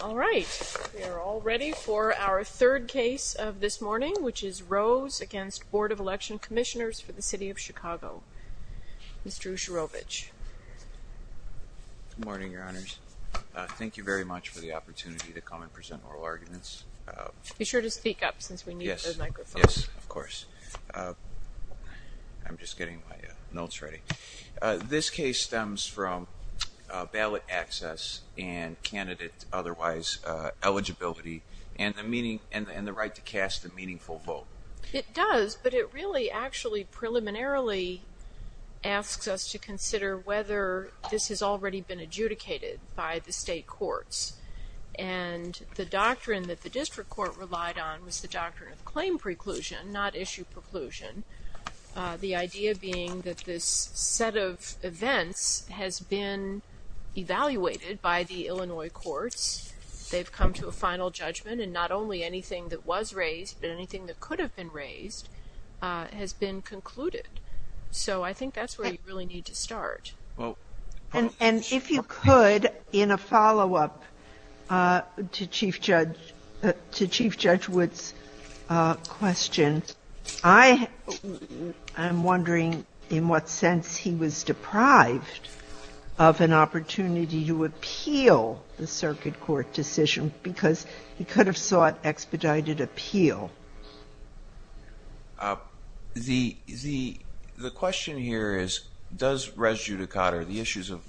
All right we are all ready for our third case of this morning which is Rose against Board of Election Commissioners for the City of Chicago. Mr. Usharovich. Good morning Your Honors. Thank you very much for the opportunity to come and present oral arguments. Be sure to speak up since we need a microphone. Yes, of course. I'm just getting my notes ready. This case stems from ballot access and candidate otherwise eligibility and the meaning and the right to cast a meaningful vote. It does but it really actually preliminarily asks us to consider whether this has already been adjudicated by the state courts and the doctrine that the district court relied on was the doctrine of claim preclusion not issue preclusion. The idea being that this set of events has been evaluated by the Illinois courts. They've come to a final judgment and not only anything that was raised but anything that could have been raised has been concluded. So I think that's where you really need to start. And if you could in a follow-up to Chief Judge Wood's question. I am wondering in what sense he was the circuit court decision because he could have sought expedited appeal. The question here is does res judicata, the issues of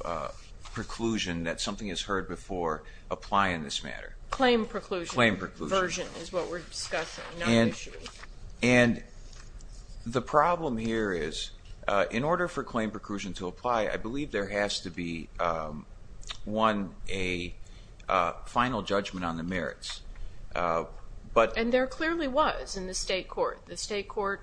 preclusion that something has heard before, apply in this matter? Claim preclusion version is what we're discussing. And the problem here is in order for claim preclusion to apply I a final judgment on the merits. But and there clearly was in the state court. The state court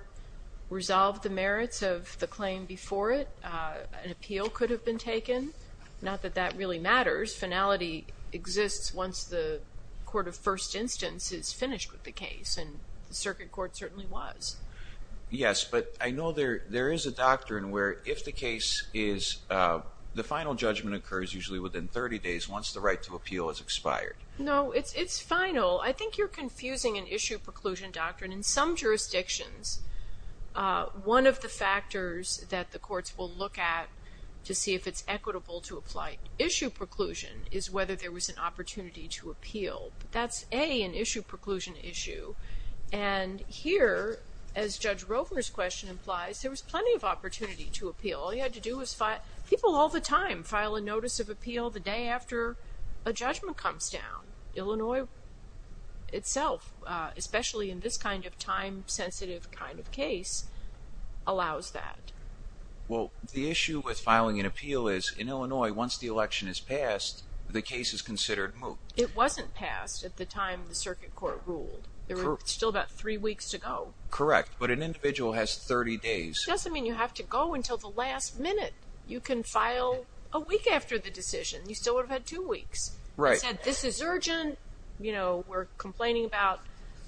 resolved the merits of the claim before it. An appeal could have been taken. Not that that really matters. Finality exists once the court of first instance is finished with the case and the circuit court certainly was. Yes but I know there there is a doctrine where if the case is the final judgment occurs usually within 30 days once the right to appeal is expired. No it's final. I think you're confusing an issue preclusion doctrine. In some jurisdictions one of the factors that the courts will look at to see if it's equitable to apply issue preclusion is whether there was an opportunity to appeal. That's a an issue preclusion issue. And here as Judge Roper's question implies there was plenty of opportunity to appeal. All you had to do was file People all the time file a notice of appeal the day after a judgment comes down. Illinois itself especially in this kind of time sensitive kind of case allows that. Well the issue with filing an appeal is in Illinois once the election is passed the case is considered moot. It wasn't passed at the time the circuit court ruled. There were still about three weeks to go. Correct but an individual has 30 days. Doesn't mean you have to go until the last minute. You can file a week after the decision. You still would have had two weeks. Right. This is urgent you know we're complaining about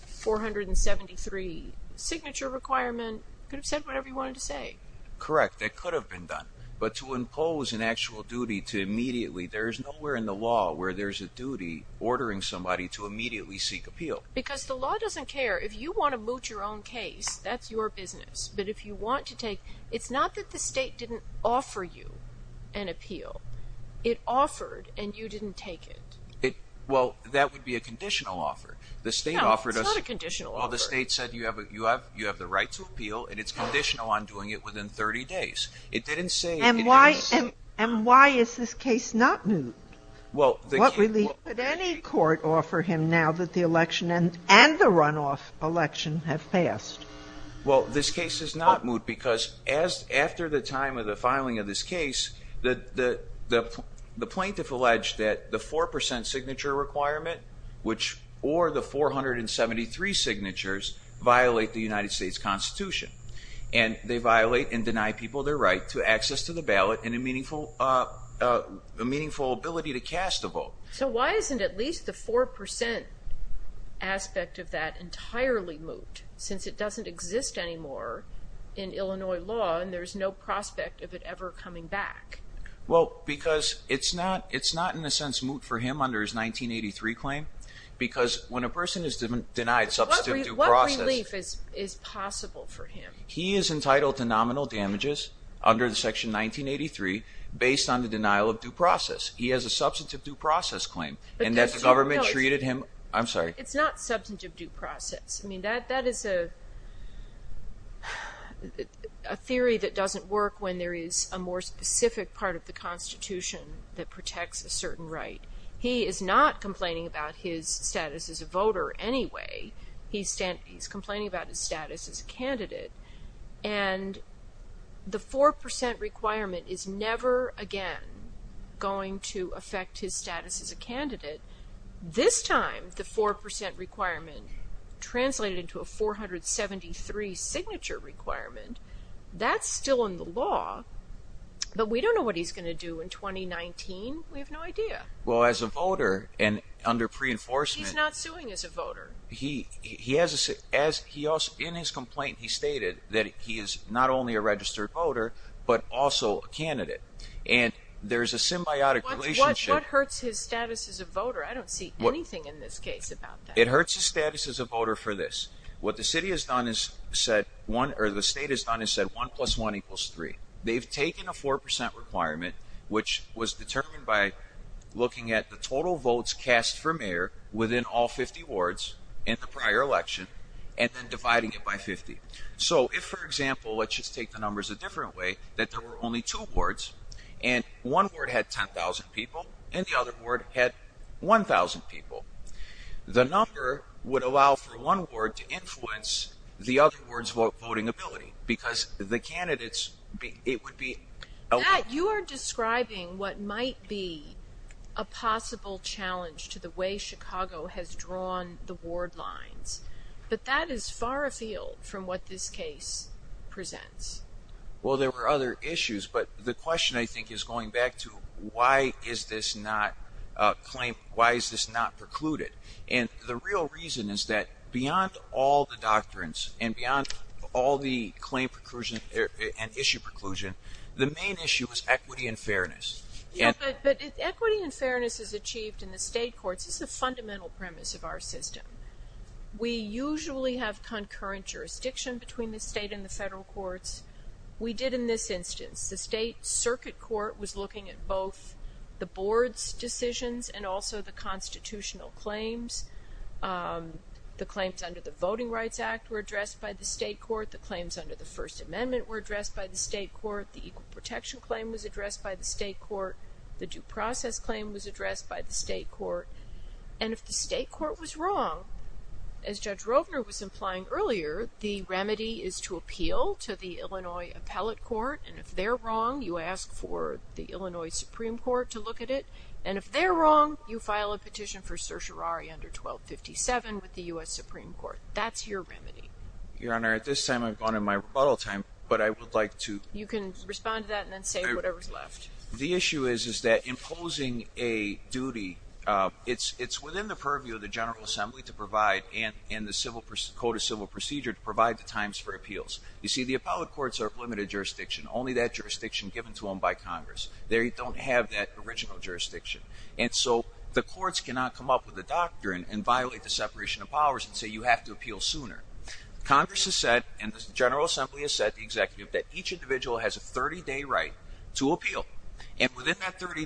473 signature requirement could have said whatever you wanted to say. Correct that could have been done but to impose an actual duty to immediately there is nowhere in the law where there's a duty ordering somebody to immediately seek appeal. Because the law doesn't care if you want to moot your own case that's your business but if you want to take it's not that the state didn't offer you an appeal it offered and you didn't take it. Well that would be a conditional offer the state offered us. No it's not a conditional offer. Well the state said you have you have you have the right to appeal and it's conditional on doing it within 30 days. It didn't say And why is this case not moot? What relief could any court offer him now that the election and and the runoff election have passed? Well this case is not moot because as after the time of the filing of this case that the the plaintiff alleged that the 4% signature requirement which or the 473 signatures violate the United States Constitution and they violate and deny people their right to access to the ballot and a meaningful a meaningful ability to cast a vote. So why isn't at least the 4% aspect of that entirely moot since it doesn't exist anymore in Illinois law and there's no prospect of it ever coming back? Well because it's not it's not in a sense moot for him under his 1983 claim because when a person is denied substantive due process. What relief is possible for him? He is entitled to nominal damages under the section 1983 based on the denial of due process. He has a substantive due process claim and that the government treated him I'm sorry. It's not substantive due process I mean that that is a theory that doesn't work when there is a more specific part of the Constitution that protects a certain right. He is not complaining about his status as a voter anyway. He's standing he's complaining about his status as a candidate and the 4% requirement is never again going to affect his status as a candidate. This time the 4% requirement translated into a 473 signature requirement. That's still in the law but we don't know what he's gonna do in 2019. We have no idea. Well as a voter and under pre-enforcement. He's not suing as a voter. He he has as he in his complaint he stated that he is not only a registered voter but also a candidate and there's a symbiotic relationship. What hurts his status as a voter? I don't see anything in this case about that. It hurts the status as a voter for this. What the city has done is said one or the state has done is said one plus one equals three. They've taken a 4% requirement which was determined by looking at the total votes cast for mayor within all 50 wards in the prior election and then dividing it by 50. So if for example let's just take the numbers a different way that there were only two boards and one board had 10,000 people and the other board had 1,000 people. The number would allow for one ward to influence the other words vote voting ability because the candidates it would be. Matt you are describing what might be a possible challenge to the way but that is far afield from what this case presents. Well there were other issues but the question I think is going back to why is this not claim why is this not precluded and the real reason is that beyond all the doctrines and beyond all the claim preclusion and issue preclusion the main issue is equity and fairness. Equity and fairness is achieved in the state courts is the usually have concurrent jurisdiction between the state and the federal courts. We did in this instance the state circuit court was looking at both the board's decisions and also the constitutional claims. The claims under the Voting Rights Act were addressed by the state court. The claims under the First Amendment were addressed by the state court. The equal protection claim was addressed by the state court. The due process claim was addressed by the state court and if the state court was wrong as Judge Rovner was implying earlier the remedy is to appeal to the Illinois Appellate Court and if they're wrong you ask for the Illinois Supreme Court to look at it and if they're wrong you file a petition for certiorari under 1257 with the US Supreme Court. That's your remedy. Your Honor at this time I've gone in my rebuttal time but I would like to you can respond to that and then say whatever's left. The issue is is that opposing a duty it's it's within the purview of the General Assembly to provide and in the civil code of civil procedure to provide the times for appeals. You see the appellate courts are limited jurisdiction only that jurisdiction given to them by Congress. They don't have that original jurisdiction and so the courts cannot come up with the doctrine and violate the separation of powers and say you have to appeal sooner. Congress has said and the General Assembly has said the executive that each individual has a 30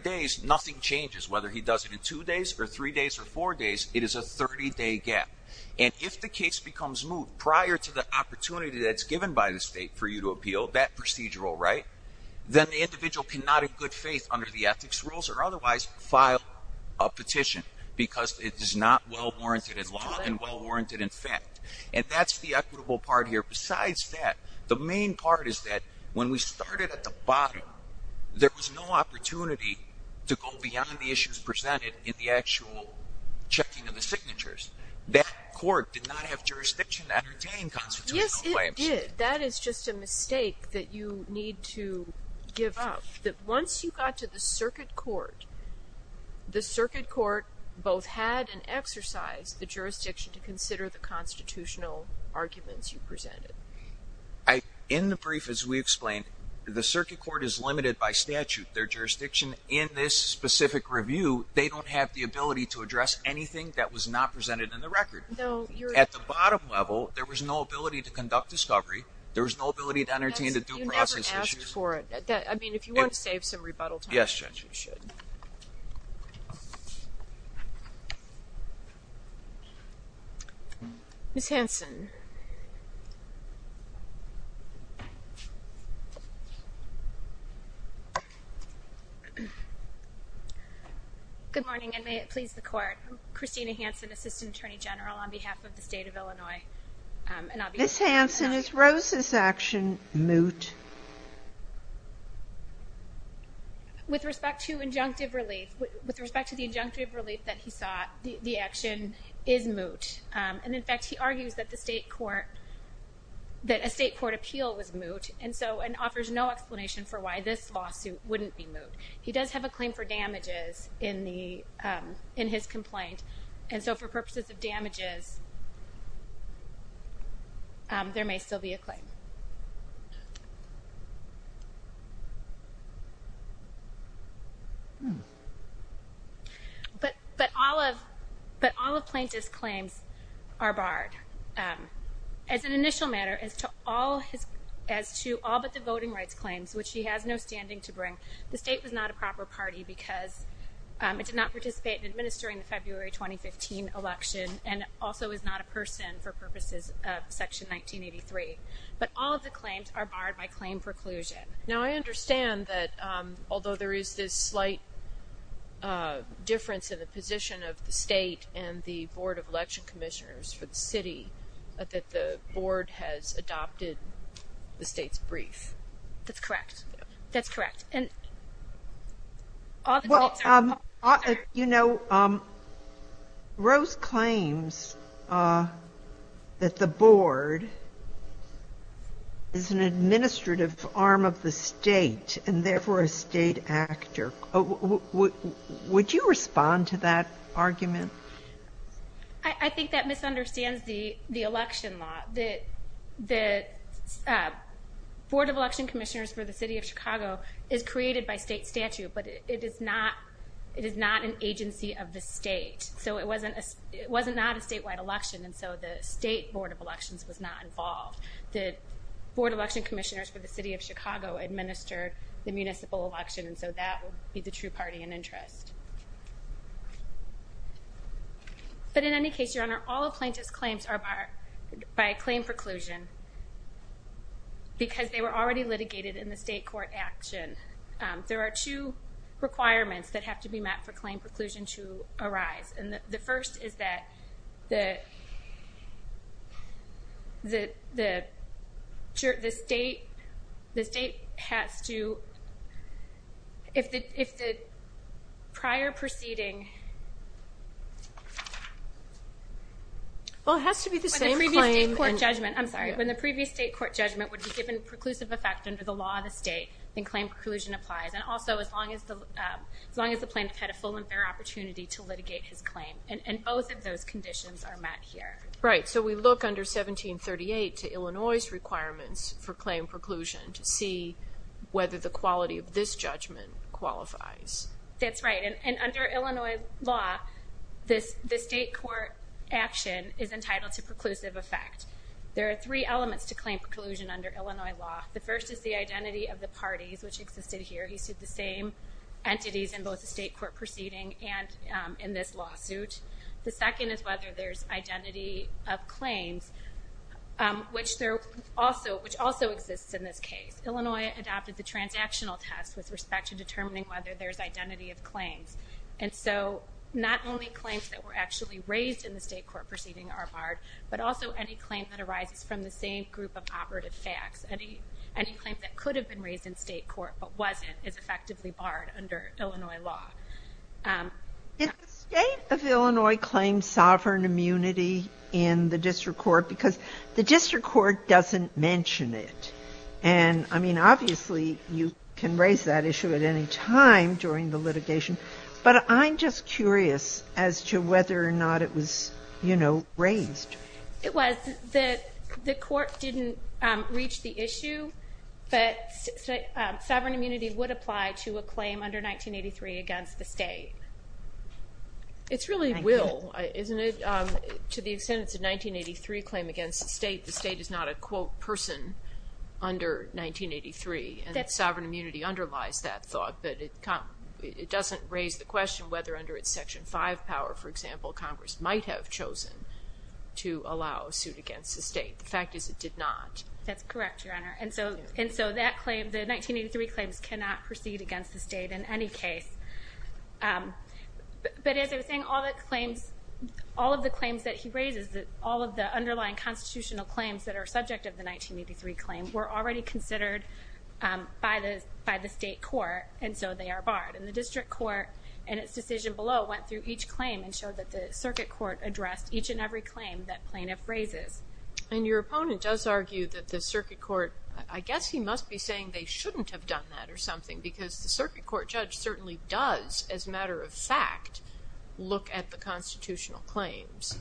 days nothing changes whether he does it in two days or three days or four days it is a 30 day gap and if the case becomes moot prior to the opportunity that's given by the state for you to appeal that procedural right then the individual cannot in good faith under the ethics rules or otherwise file a petition because it is not well warranted in law and well warranted in fact and that's the equitable part here besides that the main part is that when we started at the bottom there was no opportunity to go beyond the issues presented in the actual checking of the signatures. That court did not have jurisdiction to entertain constitutional claims. Yes it did. That is just a mistake that you need to give up that once you got to the circuit court the circuit court both had an exercise the jurisdiction to consider the constitutional arguments you presented. In the brief as we explained the circuit court is limited by statute. Their jurisdiction in this specific review they don't have the ability to address anything that was not presented in the record. At the bottom level there was no ability to conduct discovery. There was no ability to entertain the due process. You never asked for it. I mean if you want to save some rebuttal time. Yes judge you should. Ms. Hanson. Good morning and may it please the court. Christina Hanson assistant attorney general on behalf of the state of Illinois. Ms. Hanson is Rosa's action moot. With respect to injunctive relief with respect to the injunctive relief that he sought the action is moot and in fact he argues that the state court that a state court appeal was moot and so and offers no explanation for why this lawsuit wouldn't be moot. He does have a claim for damages in the in his complaint and so for purposes of damages there may still be a claim. But but all of but all of plaintiff's claims are barred. As an initial matter as to all his as to all but the voting rights claims which he has no standing to bring the state was not a proper party because it did not participate in February 2015 election and also is not a person for purposes of section 1983. But all of the claims are barred by claim preclusion. Now I understand that although there is this slight difference in the position of the state and the Board of Election Commissioners for the city that the board has adopted the brief. That's correct. That's correct. And you know Rose claims that the board is an administrative arm of the state and therefore a state actor. Would you respond to that Board of Election Commissioners for the city of Chicago is created by state statute but it is not it is not an agency of the state. So it wasn't it wasn't not a statewide election and so the state Board of Elections was not involved. The Board of Election Commissioners for the city of Chicago administered the municipal election and so that would be the true party in interest. But in any case your honor all of plaintiff's claims are barred by a claim preclusion because they were already litigated in the state court action. There are two requirements that have to be met for claim preclusion to arise and the first is that the state has to if the prior proceeding. Well it has to be the same claim. I'm sorry when the previous state court judgment would be given preclusive effect under the law of the state then claim preclusion applies and also as long as the plaintiff had a full and fair opportunity to litigate his claim and both of those conditions are met here. Right so we look under 1738 to Illinois's requirements for claim preclusion to see whether the quality of this judgment qualifies. That's right and under Illinois law this the state court action is entitled to preclusive effect. There are three elements to claim preclusion under Illinois law. The first is the identity of the parties which existed here. He sued the same entities in both the state court proceeding and in this lawsuit. The second is whether there's identity of claims which there also which also exists in this case. Illinois adopted the transactional test with respect to determining whether there's identity of claims and so not only claims that were actually raised in the state court proceeding are barred but also any claim that arises from the same group of operative facts. Any claim that could have been raised in state court but wasn't is effectively barred under Illinois law. Did the state of Illinois claim sovereign immunity in the district court because the district court doesn't mention it and I mean obviously you can raise that issue at any time during the litigation but I'm just curious as to whether or not it was you know raised. It was. The court didn't reach the issue but sovereign immunity would apply to a claim under 1983 against the state. It's really will isn't it to the person under 1983 and that sovereign immunity underlies that thought but it come it doesn't raise the question whether under its section 5 power for example Congress might have chosen to allow a suit against the state. The fact is it did not. That's correct your honor and so and so that claim the 1983 claims cannot proceed against the state in any case but as I was saying all that claims all of the claims that he raises that all of the underlying constitutional claims that are subject of the 1983 claim were already considered by the by the state court and so they are barred and the district court and its decision below went through each claim and showed that the circuit court addressed each and every claim that plaintiff raises. And your opponent does argue that the circuit court I guess he must be saying they shouldn't have done that or something because the circuit court judge certainly does as matter of fact look at the constitutional claims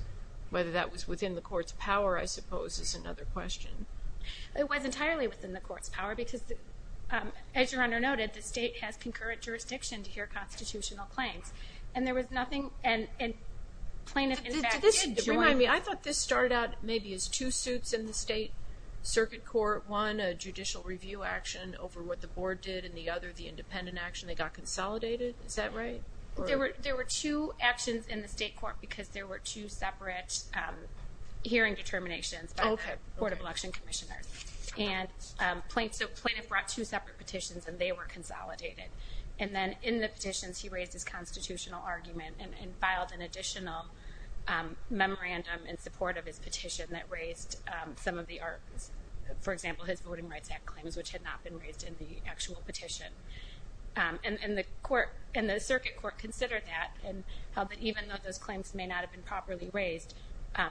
whether that was within the court's power I suppose is another question. It was entirely within the court's power because as your honor noted the state has concurrent jurisdiction to hear constitutional claims and there was nothing and plaintiff in fact did join. Remind me I thought this started out maybe as two suits in the state circuit court one a judicial review action over what the board did and the other the independent action they got consolidated is that right? There were there were two actions in the state court because there were two separate hearing determinations by the Board of Election Commissioners and plaintiff brought two separate petitions and they were consolidated and then in the petitions he raised his constitutional argument and filed an additional memorandum in support of his petition that raised some of the arguments for example his Voting Rights Act claims which had not been raised in the actual petition and the court in the even though those claims may not have been properly raised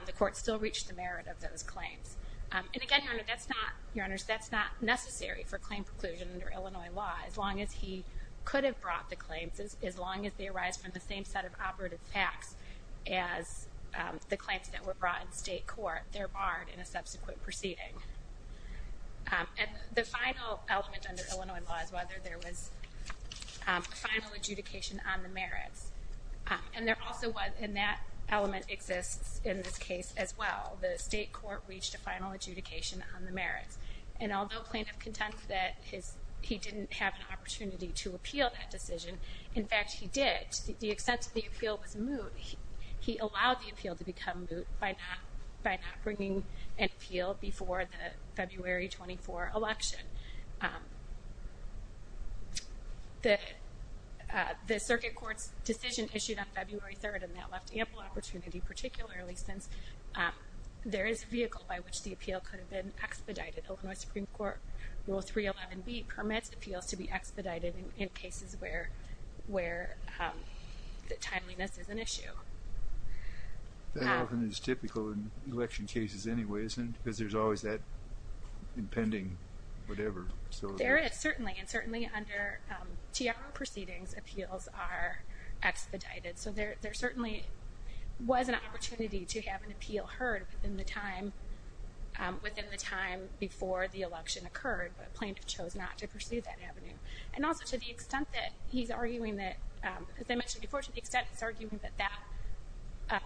the court still reached the merit of those claims and again your honor that's not your honors that's not necessary for claim preclusion under Illinois law as long as he could have brought the claims as long as they arise from the same set of operative facts as the claims that were brought in state court they're barred in a subsequent proceeding and the final element under Illinois law is whether there was final adjudication on the merits and there also was in that element exists in this case as well the state court reached a final adjudication on the merits and although plaintiff contends that his he didn't have an opportunity to appeal that decision in fact he did the extent of the appeal was moot he allowed the appeal to become moot by not by not bringing an appeal before the February 24 election the the Circuit Court's decision issued on February 3rd and that left ample opportunity particularly since there is vehicle by which the appeal could have been expedited. Illinois Supreme Court Rule 311B permits appeals to be expedited in cases where where the timeliness is an issue. That often is typical in election cases anyways and because there's always that impending whatever. There is certainly and certainly under Tiago proceedings appeals are expedited so there there certainly was an opportunity to have an appeal heard within the time within the time before the election occurred but plaintiff chose not to pursue that avenue and also to the extent that he's arguing that as I mentioned before to the extent it's arguing that that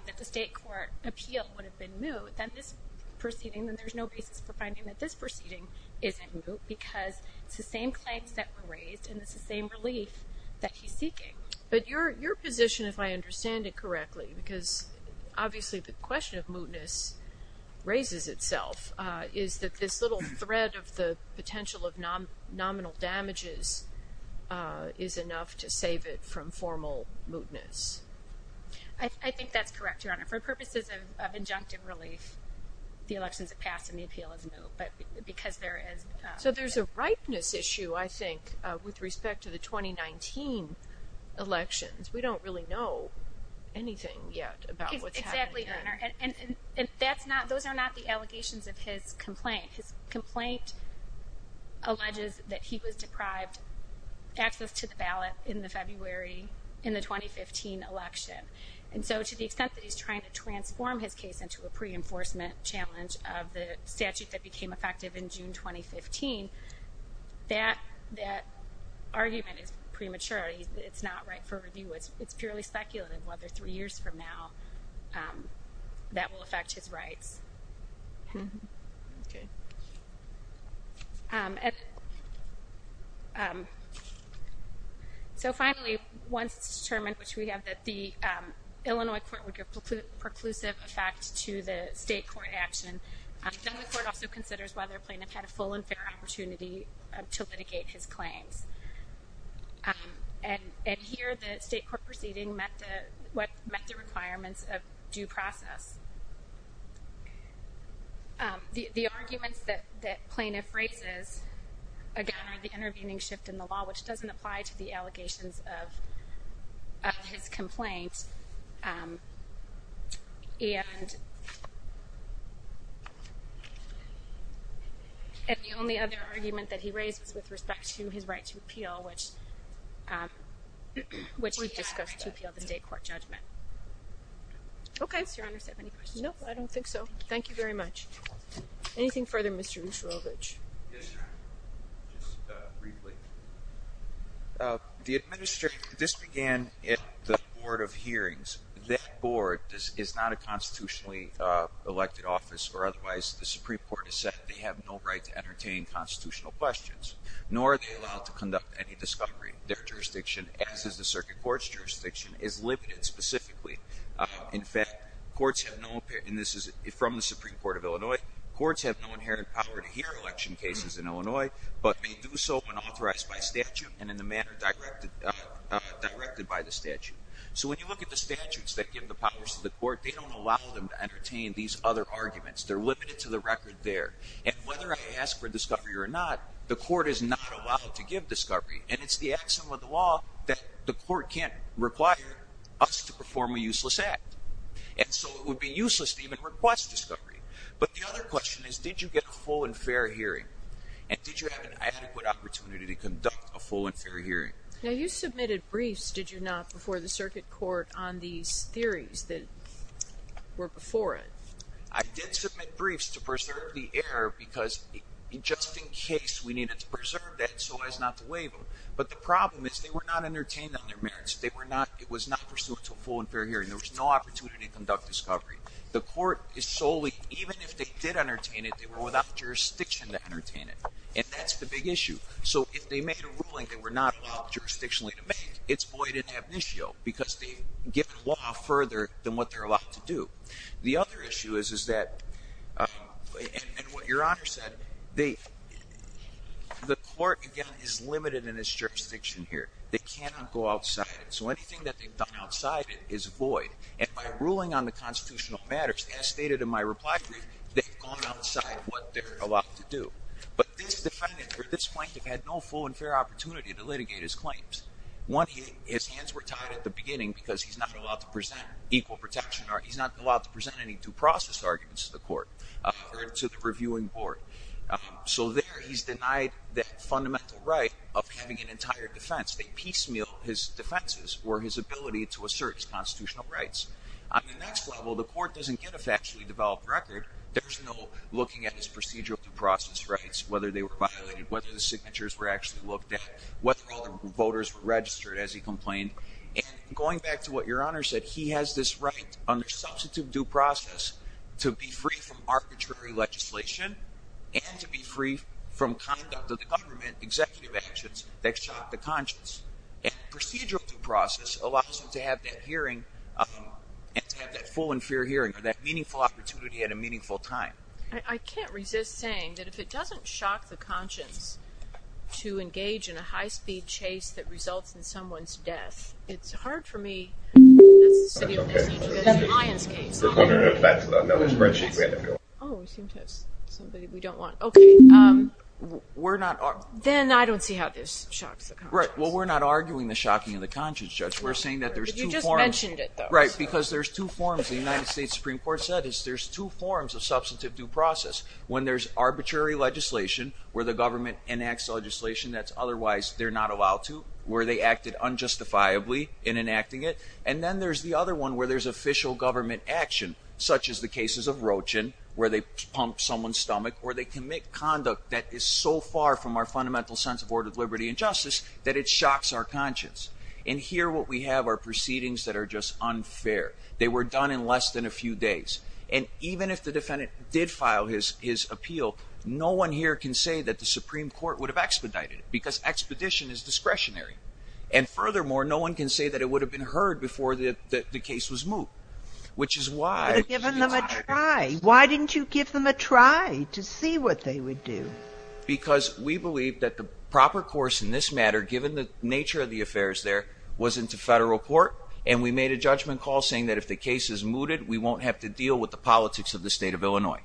that the state court appeal would have been moot then this proceeding then there's no basis for finding that this proceeding isn't moot because it's the same claims that were raised and it's the same relief that he's seeking. But your your position if I understand it correctly because obviously the question of mootness raises itself is that this little thread of the potential of nominal damages is enough to save it from formal mootness. I think that's correct your honor. For purposes of injunctive relief the elections have passed and the appeal is moot but because there is. So there's a ripeness issue I think with respect to the 2019 elections. We don't really know anything yet about what's happening. Exactly your honor and that's not those are not the allegations of his complaint. His complaint alleges that he was deprived access to the ballot in the February in the 2015 election and so to the extent that he's trying to transform his case into a pre-enforcement challenge of the statute that became effective in June 2015 that that argument is premature. It's not right for review. It's it's purely speculative whether three years from now that will affect his rights. So finally once determined which we have that the Illinois court would give preclusive effect to the state court action. Then the court also considers whether plaintiff had a full and fair opportunity to litigate his claims. And due process. The arguments that that plaintiff raises again are the intervening shift in the law which doesn't apply to the allegations of his complaint. And and the only other argument that he raises with respect to his right to appeal which which we've discussed to appeal the state court judgment. Okay. No I don't think so. Thank you very much. Anything further Mr. Usharovich. The administrator this began at the Board of Hearings. That board is not a constitutionally elected office or otherwise the Supreme Court has said they have no right to entertain constitutional questions. Nor are they allowed to conduct any discovery. Their jurisdiction as is the Circuit Court's jurisdiction is limited specifically. In fact courts have no and this is from the Supreme Court of Illinois. Courts have no inherent power to hear election cases in Illinois but may do so when authorized by statute and in the manner directed directed by the statute. So when you look at the statutes that give the powers to the court they don't allow them to entertain these other arguments. They're limited to the record there. And whether I ask for discovery or not the court is not allowed to give discovery and it's the action with the law that the court can't require us to perform a useless act. And so it would be useless to even request discovery. But the other question is did you get a full and fair hearing? And did you have an adequate opportunity to conduct a full and fair hearing? Now you submitted briefs did you not before the Circuit Court on these theories that were before it? I did submit briefs to preserve the air because just in case we needed to preserve that so as not to waive them. But the problem is they were not entertained on their merits. They were not it was not pursuant to a full and fair hearing. There was no opportunity to conduct discovery. The court is solely even if they did entertain it they were without jurisdiction to entertain it. And that's the big issue. So if they made a ruling that we're not allowed jurisdictionally to make it's void in ab initio because they've given law further than what they're allowed to do. The other issue is is that and what your honor said the the court again is limited in its jurisdiction here. They cannot go outside it. So anything that they've done outside it is void. And by ruling on the constitutional matters as stated in my reply brief they've gone outside what they're allowed to do. But this defendant or this plaintiff had no full and fair opportunity to litigate his claims. One his hands were tied at the beginning because he's not allowed to present equal protection or he's not allowed to present any due process arguments to the court or to the reviewing board. So there he's denied that fundamental right of having an entire defense. They piecemeal his defenses or his ability to assert his constitutional rights. On the next level the court doesn't get a factually developed record. There's no looking at his procedural due process rights whether they were violated, whether the signatures were actually looked at, whether all the voters were registered as he complained. And going back to what your honor said, he has this right under substitute due process to be free from arbitrary legislation and to be free from conduct of the government executive actions that shock the conscience. And procedural due process allows him to have that hearing and to have that full and fair hearing or that meaningful opportunity at a meaningful time. I can't resist saying that if it doesn't shock the conscience to engage in a high-speed chase that results in someone's death, it's hard for me. Then I don't see how this shocks the conscience. Right, well we're not arguing the shocking of the conscience, Judge. We're saying that there's two forms. You just mentioned it. Right, because there's two forms. The United States Supreme Court said is there's two forms of substantive due process. When there's arbitrary legislation where the government enacts legislation that's otherwise they're not allowed to, where they acted unjustifiably in enacting it, and then there's the other one where there's official government action such as the cases of Roachin where they pump someone's stomach or they commit conduct that is so far from our fundamental sense of order, liberty, and justice that it shocks our conscience. And here what we have are proceedings that are just unfair. They were done in less than a few days and even if the defendant did file his appeal, no one here can say that the Supreme Court would have expedited it because expedition is discretionary. And furthermore, no one can say that it would have been heard before that the case was moot, which is why... Why didn't you give them a try to see what they would do? Because we believe that the proper course in this matter, given the nature of the affairs there, was into federal court and we made a judgment call saying that if the case is mooted we won't have to deal with the politics of the state of Illinois.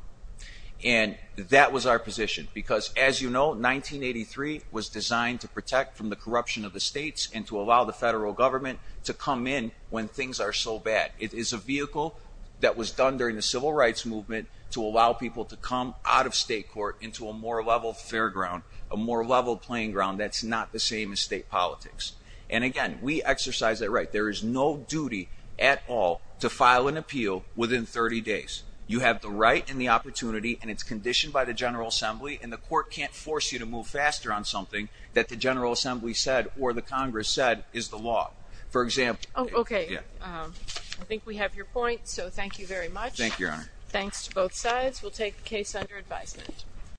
And that was our position because, as you know, 1983 was designed to protect from the corruption of the states and to allow the federal government to come in when things are so bad. It is a vehicle that was done during the Civil Rights Movement to allow people to come out of state court into a more leveled fairground, a more leveled playing ground that's not the same as state politics. And again, we exercise that right. There is no duty at all to file an appeal within 30 days. You have the right and the opportunity and it's conditioned by the General Assembly and the court can't force you to move faster on something that the General Assembly said or the Congress said is the law. For example... Oh, okay. I think we have your point, so thank you very much. Thank you, Your Honor. Thanks to both sides. We'll take the case under advisement.